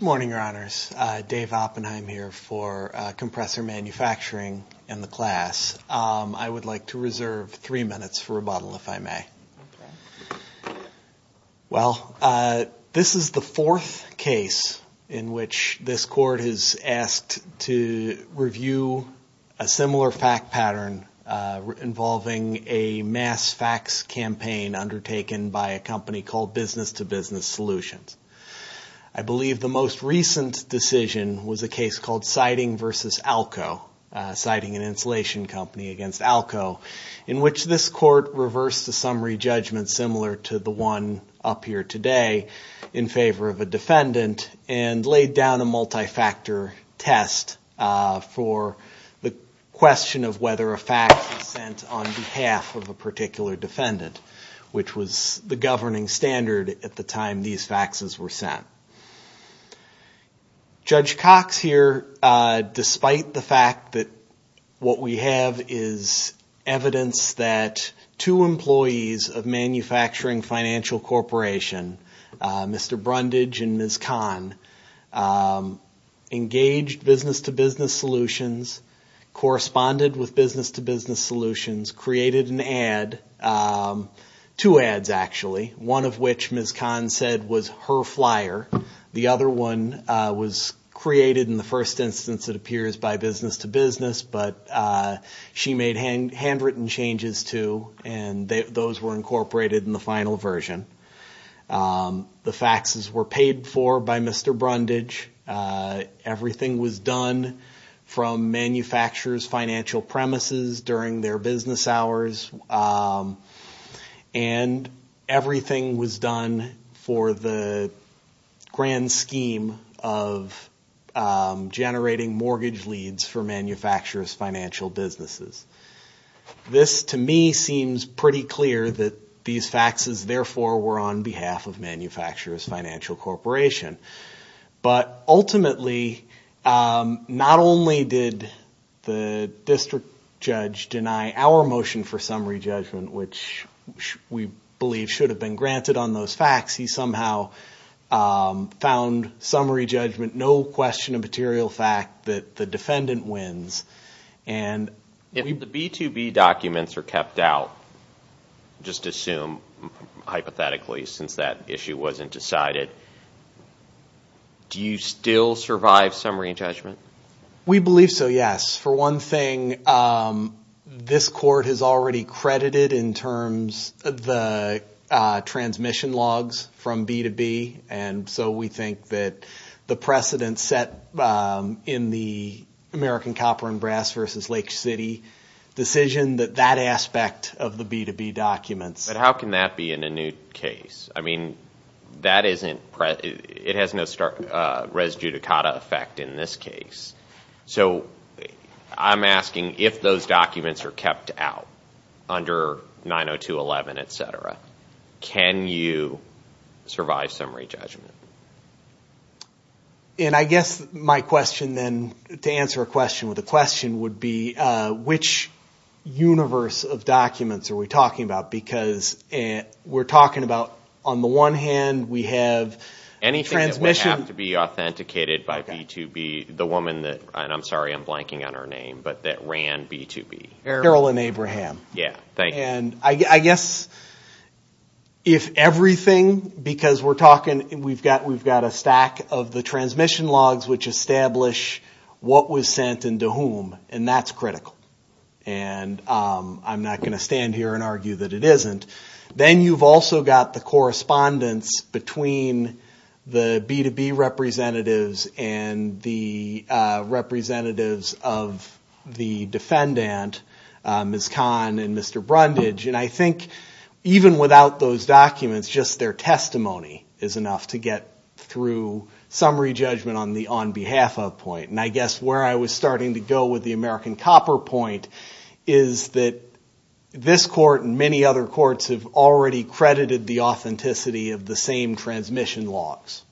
Morning Your Honors, Dave Oppenheim here for Compressor Manufacturing in the class. I would like to reserve three minutes for rebuttal if I may. Well this is the fourth case in which this court has asked to review a similar fact pattern involving a mass fax campaign undertaken by a company called Business to Business Solutions. I believe the most recent decision was a case called Siding vs. Alco in which this court reversed the summary judgment similar to the one up here today in favor of a defendant and laid down a multi-factor test for the question of whether a fax was sent on behalf of a particular defendant which was the governing standard at the time these faxes were sent. Judge Cox here despite the fact that what we have is evidence that two employees of Manufacturing Financial Corporation Mr. Brundage and Ms. Kahn engaged Business to Business Solutions, corresponded with Business to Business Solutions, created an ad, two ads actually, one of which Ms. Kahn said was her flyer the other one was created in the first instance it appears by Business to Business but she made handwritten changes to and those were incorporated in the final version. The faxes were paid for by Mr. Brundage, everything was done from manufacturers financial premises during their business hours and everything was done for the grand scheme of generating mortgage leads for manufacturers financial businesses. This to me seems pretty clear that these faxes therefore were on behalf of Manufacturers Financial Corporation but ultimately not only did the district judge deny our motion for summary judgment which we believe should have been granted on those fax he somehow found summary judgment no question of material fact that the defendant wins. If the B2B documents are kept out just assume hypothetically since that issue wasn't decided do you still survive summary judgment? We believe so yes for one thing this court has already credited in terms of the transmission logs from B2B and so we think that the precedent set in the American Copper and Brass versus Lake City decision that that aspect of the B2B documents. But how can that be in a new case I mean that isn't it has no start res judicata effect in this case so I'm asking if those documents are kept out under 902 11 etc can you survive summary judgment? And I guess my question then to answer a question with a question would be which universe of documents are we talking about because and we're talking about on the one hand we have any transmission to be and I'm sorry I'm blanking on her name but that ran B2B Errol and Abraham yeah thank and I guess if everything because we're talking we've got we've got a stack of the transmission logs which establish what was sent into whom and that's critical and I'm not going to stand here and argue that it isn't then you've also got the correspondence between the B2B representatives and the representatives of the defendant Ms. Khan and Mr. Brundage and I think even without those documents just their testimony is enough to get through summary judgment on the on behalf of point and I guess where I was starting to go with the American Copper point is that this court and many other courts have already credited the authenticity of the same transmission logs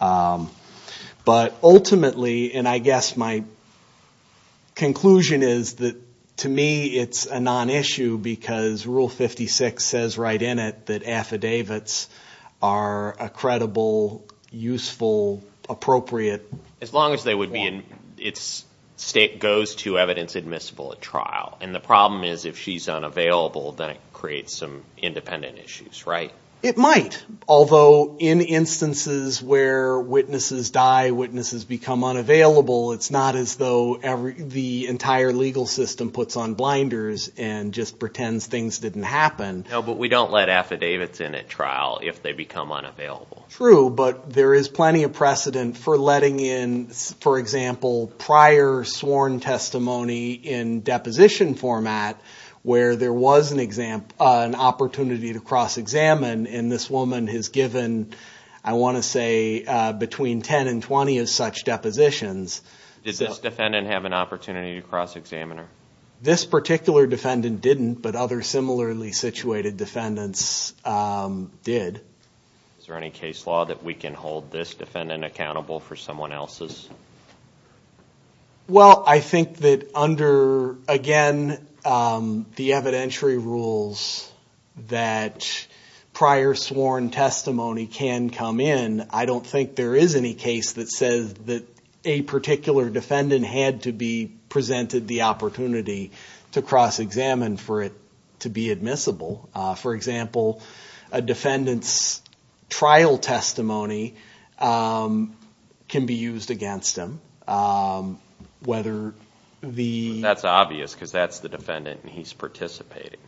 but ultimately and I guess my conclusion is that to me it's a non-issue because rule 56 says right in it that affidavits are a credible useful appropriate as long as they would be in its state goes to evidence admissible at trial and the problem is if she's unavailable then it creates some independent issues right it might although in instances where witnesses die witnesses become unavailable it's not as though the entire legal system puts on blinders and just pretends things didn't happen but we don't let affidavits in at trial if they become unavailable true but there is plenty of precedent for letting in for example prior sworn testimony in deposition format where there was an an opportunity to cross-examine and this woman has given I want to say between 10 and 20 as such depositions did this defendant have an opportunity to cross-examine her this particular defendant didn't but other similarly situated defendants did is there any case law that we can hold this defendant accountable for someone else's well I think that under again the evidentiary rules that prior sworn testimony can come in I don't think there is any case that says that a particular defendant had to be presented the opportunity to cross-examine for it to be admissible for example a defendant's trial testimony can be used against him whether the that's obvious because that's the defendant he's participating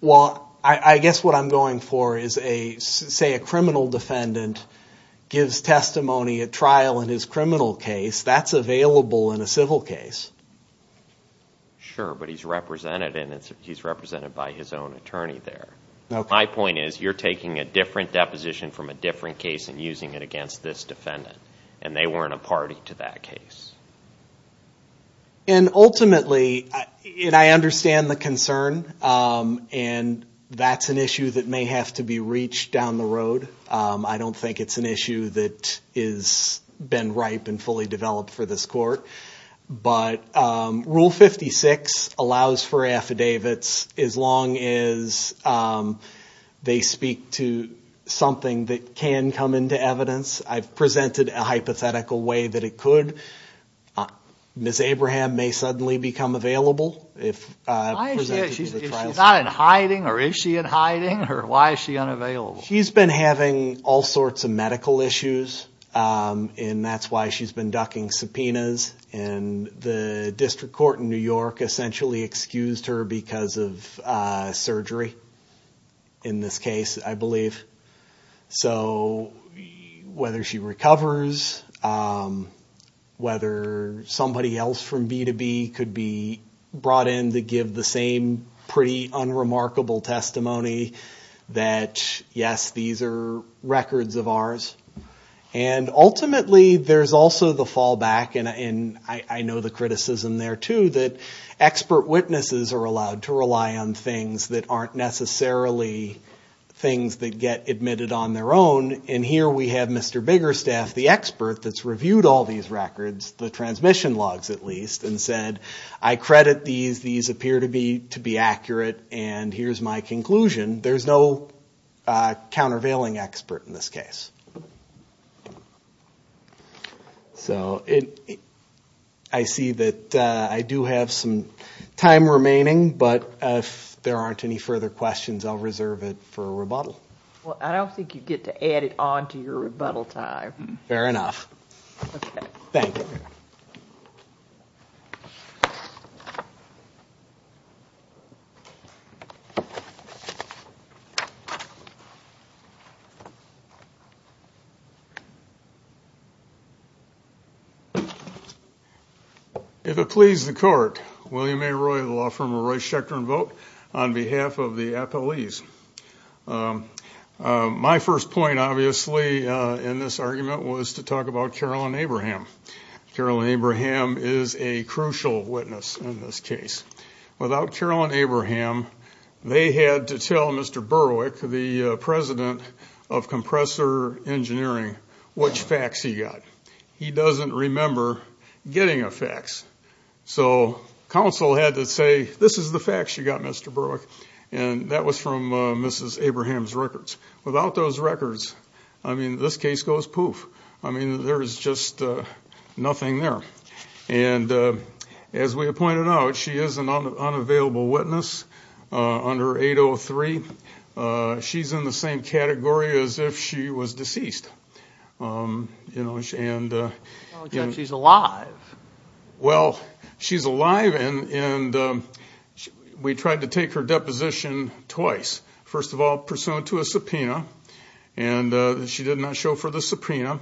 well I guess what I'm going for is a criminal defendant gives testimony at trial in his criminal case that's available in a civil case sure but he's represented and it's represented by his own attorney there my point is you're taking a different deposition from a different case and using it against this defendant and they weren't a party to that case and ultimately I understand the concern and that's an issue that may have to be reached down the road I don't think it's an issue that is been ripe and fully developed for this court but rule 56 allows for affidavits as long as they speak to something that can come into evidence I've presented a hypothetical way that it could miss Abraham may suddenly become available if she's not in hiding or is she in hiding or why is she unavailable she's been having all sorts of medical issues and that's why she's been ducking subpoenas and the District Court in New York essentially excused her because of whether somebody else from B2B could be brought in to give the same pretty unremarkable testimony that yes these are records of ours and ultimately there's also the fallback and I know the criticism there too that expert witnesses are allowed to rely on things that aren't necessarily things that get admitted on their own and here we have Mr. Biggerstaff the expert that's reviewed all these records the transmission logs at least and said I credit these these appear to be to be accurate and here's my conclusion there's no countervailing expert in this case so I see that I do have some time remaining but if there aren't any further questions I'll reserve it for I don't think you get to add it on to your rebuttal time. Fair enough. Thank you. If it please the court William A. Roy of the law firm of Roy Schecter and vote on my first point obviously in this argument was to talk about Carolyn Abraham. Carolyn Abraham is a crucial witness in this case. Without Carolyn Abraham they had to tell Mr. Berwick the president of compressor engineering which facts he got. He doesn't remember getting a fax so counsel had to say this is the facts you got Mr. Berwick and that was from Mrs. Abraham's records without those records I mean this case goes poof I mean there's just nothing there and as we have pointed out she is an unavailable witness under 803 she's in the same category as if she was deceased you know and yeah she's alive well she's alive and and we tried to take her deposition twice first of all pursuant to a subpoena and she did not show for the subpoena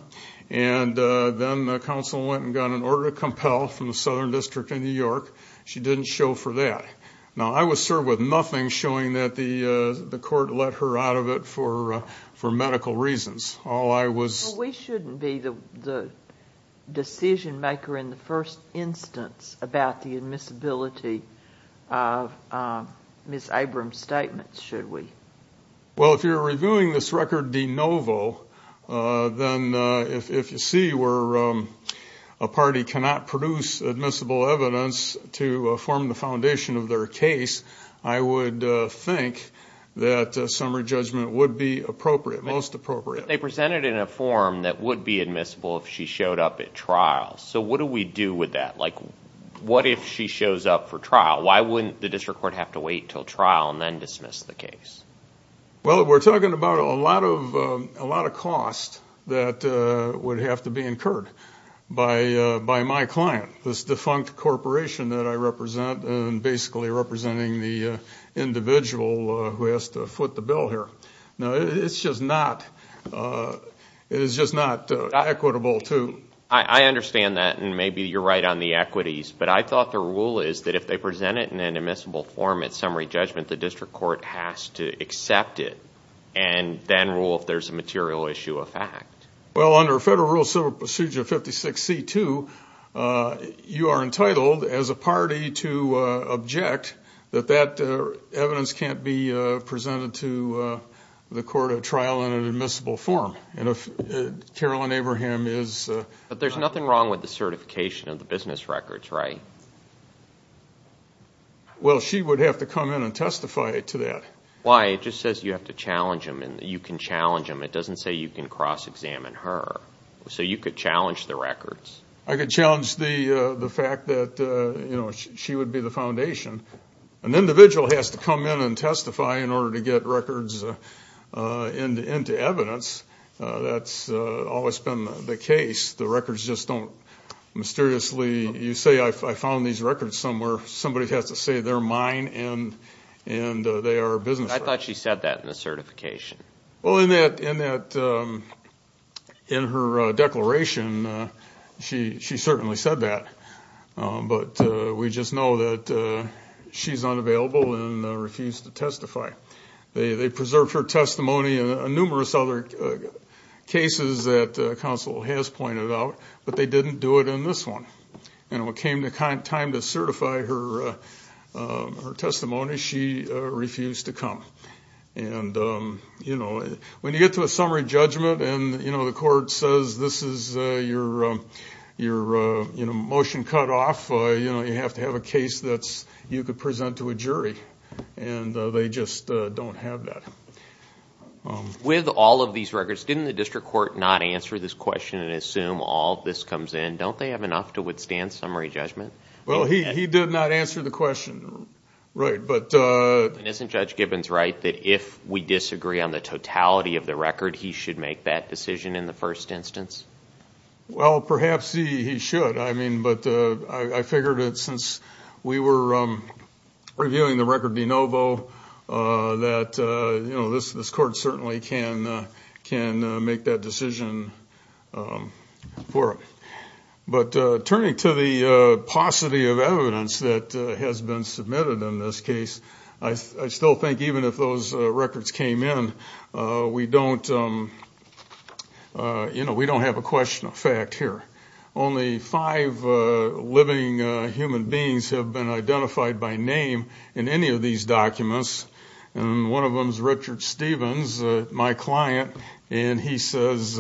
and then the counsel went and got an order to compel from the Southern District in New York she didn't show for that now I was served with nothing showing that the the court let her out of it for for medical reasons all I was we shouldn't be the the decision maker in the first instance about the admissibility of Miss Abrams statements should we well if you're reviewing this record de novo then if you see where a party cannot produce admissible evidence to form the foundation of their case I would think that summary judgment would be appropriate most appropriate they presented in a form that would be admissible if she showed up at trial so what do we do with that like what if she had to wait till trial and then dismiss the case well we're talking about a lot of a lot of cost that would have to be incurred by by my client this defunct corporation that I represent and basically representing the individual who has to foot the bill here no it's just not it is just not equitable to I understand that and maybe you're right on the equities but I thought the rule is that if they present it in an admissible form at summary judgment the district court has to accept it and then rule if there's a material issue of fact well under federal rule so procedure 56 c2 you are entitled as a party to object that that evidence can't be presented to the court of trial in an admissible form and if Carolyn Abraham is but there's nothing wrong with the certification of business records right well she would have to come in and testify to that why it just says you have to challenge him and you can challenge him it doesn't say you can cross-examine her so you could challenge the records I could challenge the the fact that you know she would be the foundation an individual has to come in and testify in order to get records into into evidence that's always been the case the records just don't mysteriously you say I found these records somewhere somebody has to say they're mine and and they are business I thought she said that in the certification well in that in that in her declaration she she certainly said that but we just know that she's unavailable and refused to testify they preserved her testimony and numerous other cases that counsel has pointed out but they didn't do it in this one and what came to kind of time to certify her her testimony she refused to come and you know when you get to a summary judgment and you know the court says this is your your you know motion cut off you know you have to have a case you could present to a jury and they just don't have that with all of these records didn't the district court not answer this question and assume all this comes in don't they have enough to withstand summary judgment well he did not answer the question right but isn't judge Gibbons right that if we disagree on the totality of the record he should make that decision in the first instance well perhaps he should I mean but I figured it since we were reviewing the record de novo that you know this this court certainly can can make that decision for it but turning to the paucity of evidence that has been submitted in this case I still think even if those records came in we don't you know we don't have a question of fact here only five living human beings have been identified by name in any of these documents and one of them is Richard Stevens my client and he says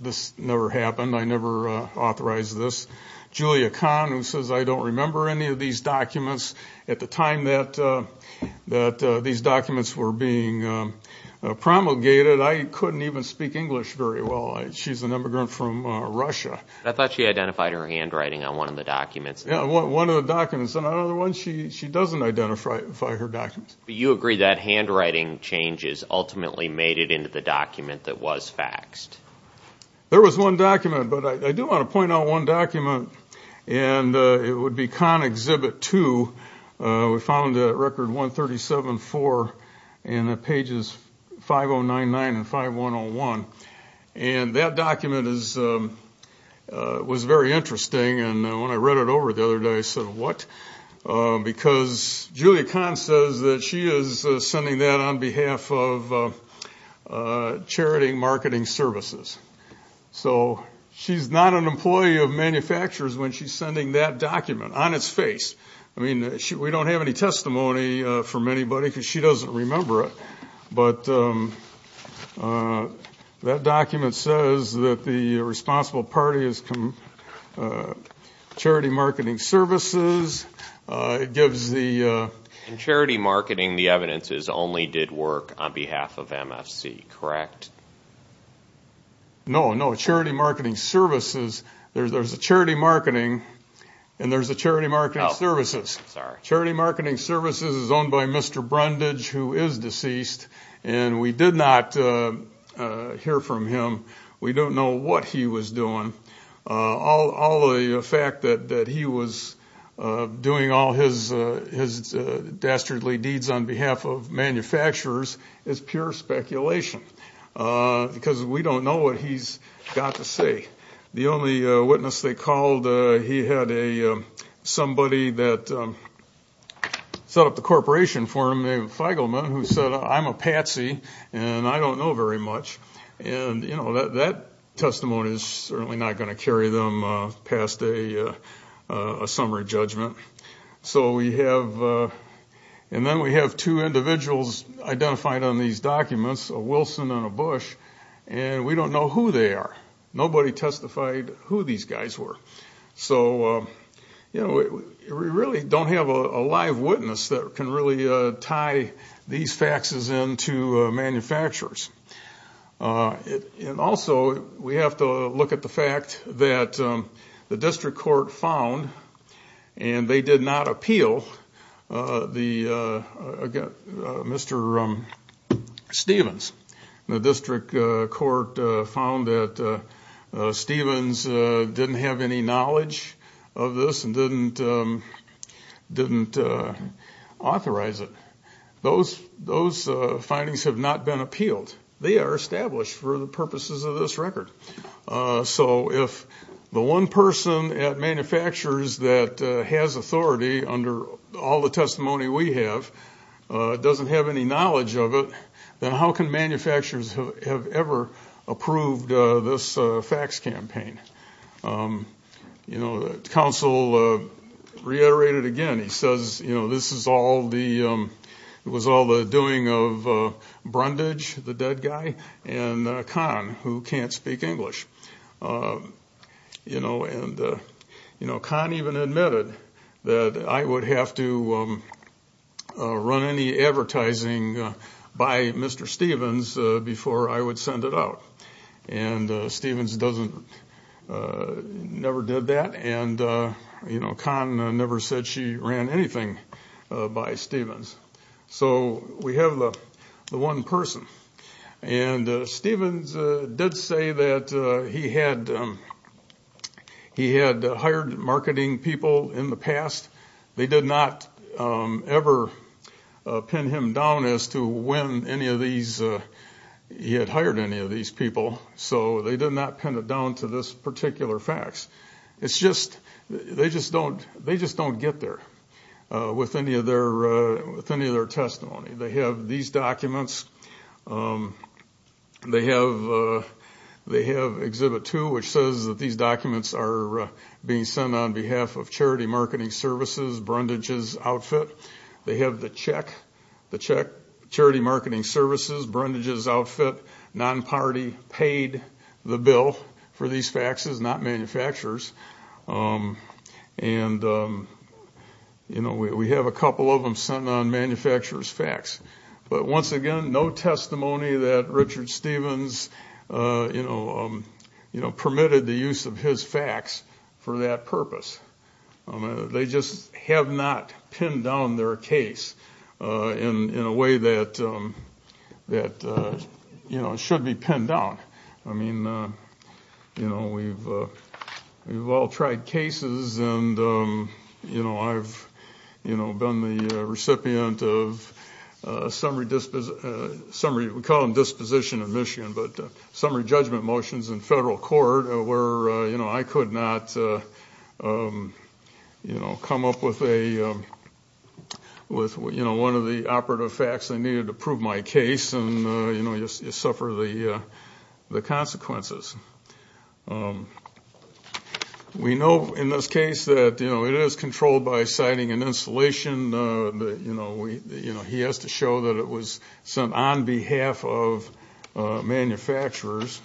this never happened I never authorized this Julia Khan who says I don't remember any of these documents at the time that that these documents were being promulgated I couldn't even speak English very well she's an immigrant from Russia I thought she identified her handwriting on one of the documents yeah one of the documents another one she doesn't identify her documents you agree that handwriting changes ultimately made it into the document that was faxed there was one document but I do want to found a record 137 for in the pages 5099 and 5101 and that document is was very interesting and when I read it over the other day I said what because Julia Khan says that she is sending that on behalf of Charity Marketing Services so she's not an employee of manufacturers when she's sending that document on its I mean we don't have any testimony from anybody because she doesn't remember it but that document says that the responsible party is come Charity Marketing Services it gives the charity marketing the evidence is only did work on behalf of MFC correct no no Charity Marketing Services there's a charity marketing and there's a charity marketing services charity marketing services is owned by mr. Brundage who is deceased and we did not hear from him we don't know what he was doing all the fact that that he was doing all his his dastardly deeds on behalf of manufacturers is pure speculation because we don't know what he's got to say the only witness they called he had a somebody that set up the corporation for me if I go man who said I'm a patsy and I don't know very much and you know that that testimony is certainly not going to carry them past a summary judgment so we have and then we have two and we don't know who they are nobody testified who these guys were so you know we really don't have a live witness that can really tie these faxes into manufacturers and also we have to look at the fact that the district court found and they did not appeal the mr. Stevens the district court found that Stevens didn't have any knowledge of this and didn't didn't authorize it those those findings have not been appealed they are established for the manufacturers that has authority under all the testimony we have doesn't have any knowledge of it then how can manufacturers have ever approved this fax campaign you know the council reiterated again he says you know this is all the was all the doing of Brundage the dead guy and Khan who can't speak English you know and you know Khan even admitted that I would have to run any advertising by mr. Stevens before I would send it out and Stevens doesn't never did that and you know Khan never said she ran anything by Stevens so we have the one person and Stevens did say that he had he had hired marketing people in the past they did not ever pin him down as to when any of these he had hired any of these people so they did not pin it down to this particular fax it's just they just don't they just don't get there with any of their testimony they have these documents they have they have exhibit two which says that these documents are being sent on behalf of charity marketing services Brundage's outfit they have the check the check charity marketing services Brundage's outfit non-party paid the bill for these faxes not manufacturers and you know we have a couple of them sent on manufacturers fax but once again no testimony that Richard Stevens you know you know permitted the use of his fax for that purpose I mean they just have not pinned down their case in a way that that you know it should be pinned down I mean you know we've we've all tried cases and you know I've you know been the recipient of a summary disposition but summary judgment motions in federal court where you know I could not you know come up with a with what you know one of the operative facts I needed to prove my case and you know you suffer the the consequences we know in this case that you know it is controlled by citing an installation that you know we you know he has to show that it was sent on behalf of manufacturers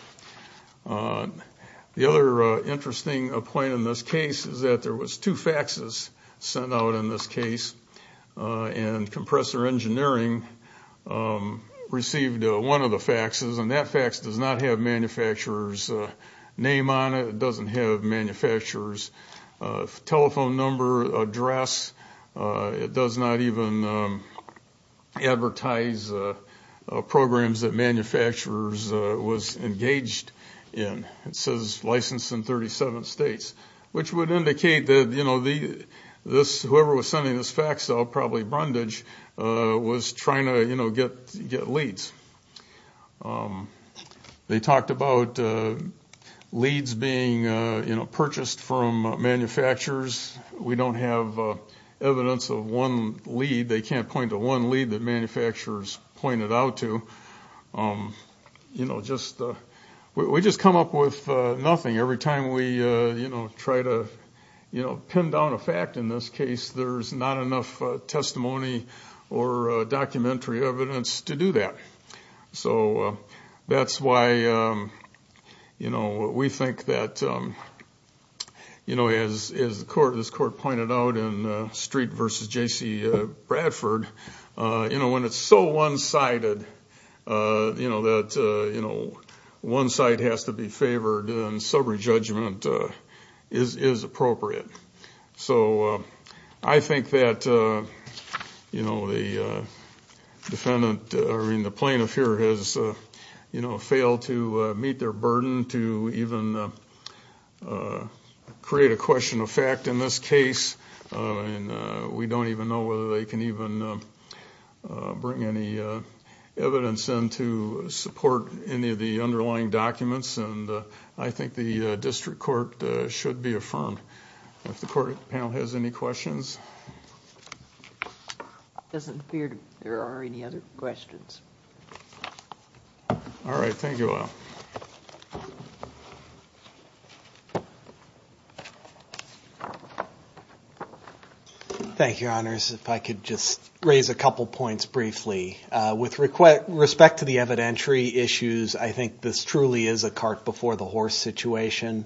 the other interesting a point in this case is that there was two faxes sent out in this case and compressor engineering received one of the faxes and that fax does not have manufacturers name on it doesn't have manufacturers telephone number address it does not even advertise programs that manufacturers was engaged in it says licensed in 37 states which would indicate that you know the this whoever was sending this fax I'll probably Brundage was trying to you know get get leads they talked about leads being purchased from manufacturers we don't have evidence of one lead they can't point to one lead the manufacturers pointed out to you know we just come up with nothing every time we you know try to you know pin down a fact in this case there's not enough testimony or documentary evidence to do that so that's why you know we think that you know as is the court this court pointed out in Street versus JC Bradford you know when it's so one-sided you know that you know one side has to be favored and sober judgment is is appropriate so I think that you know the defendant or in the plaintiff here has you know failed to meet their burden to even create a question of fact in this case and we don't even know whether they can even bring any evidence in to support any of the underlying documents and I think the district court should be affirmed if the court panel has any questions doesn't appear to there are any other questions all right thank you thank you honors if I could just raise a couple points briefly with request respect to the evidentiary issues I think this truly is a cart before the horse situation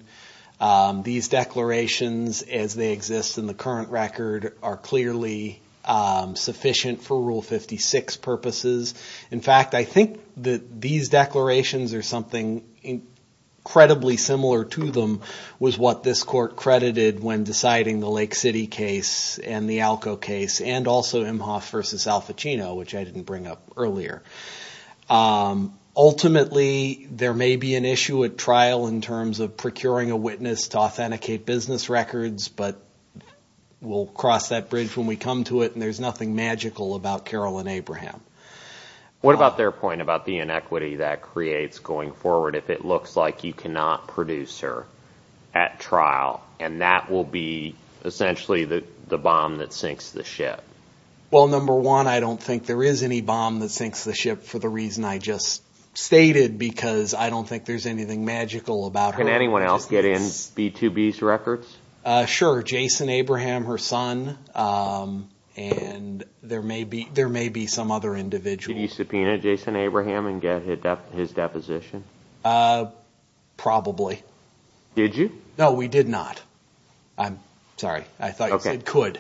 these declarations as they exist in the current record are clearly sufficient for rule 56 purposes in fact I think that these declarations are something incredibly similar to them was what this court credited when deciding the Lake City case and the Alco case and also in half versus Al Pacino which I didn't bring up earlier ultimately there may be an issue at trial in terms of procuring a witness to authenticate business records but we'll cross that bridge when we come to it and there's nothing magical about Carolyn Abraham what about their point about the inequity that creates going forward if it looks like you cannot produce her at trial and that will be essentially the bomb that sinks the ship well number one I don't think there is any bomb that sinks the ship for the reason I just stated because I don't think there's anything magical about can anyone else get in speed to B's records sure Jason Abraham her son and there may be there may be some other individual you subpoena Jason Abraham and get hit up his deposition probably did you know we did not I'm sorry I thought it could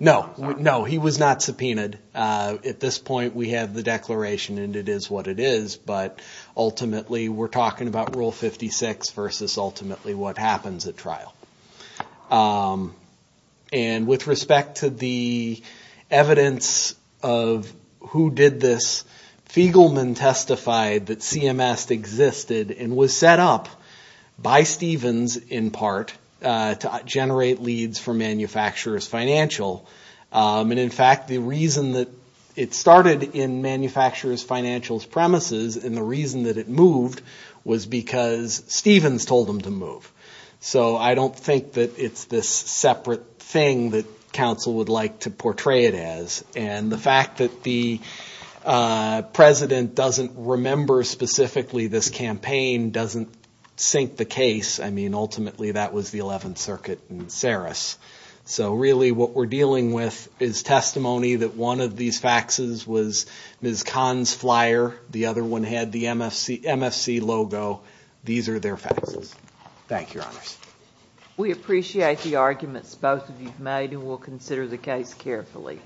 no no he was not subpoenaed at this point we have the declaration and it is what it is but ultimately we're talking about rule 56 versus ultimately what happens at trial and with respect to the evidence of who did this Fiegelman testified that CMS existed and was set up by Stevens in part to generate leads for manufacturers financial and in fact the reason that it started in manufacturers financials premises and the reason that it moved was because Stevens told him to move so I don't think that it's this separate thing that council would like to portray it as and the fact that the president doesn't remember specifically this campaign doesn't sink the case I mean ultimately that was the 11th circuit and Saris so really what we're dealing with is testimony that one of these faxes was ms. Kahn's flyer the other one had the MFC MFC logo these are their faces thank your honors we appreciate the arguments both of you made and we'll consider the case carefully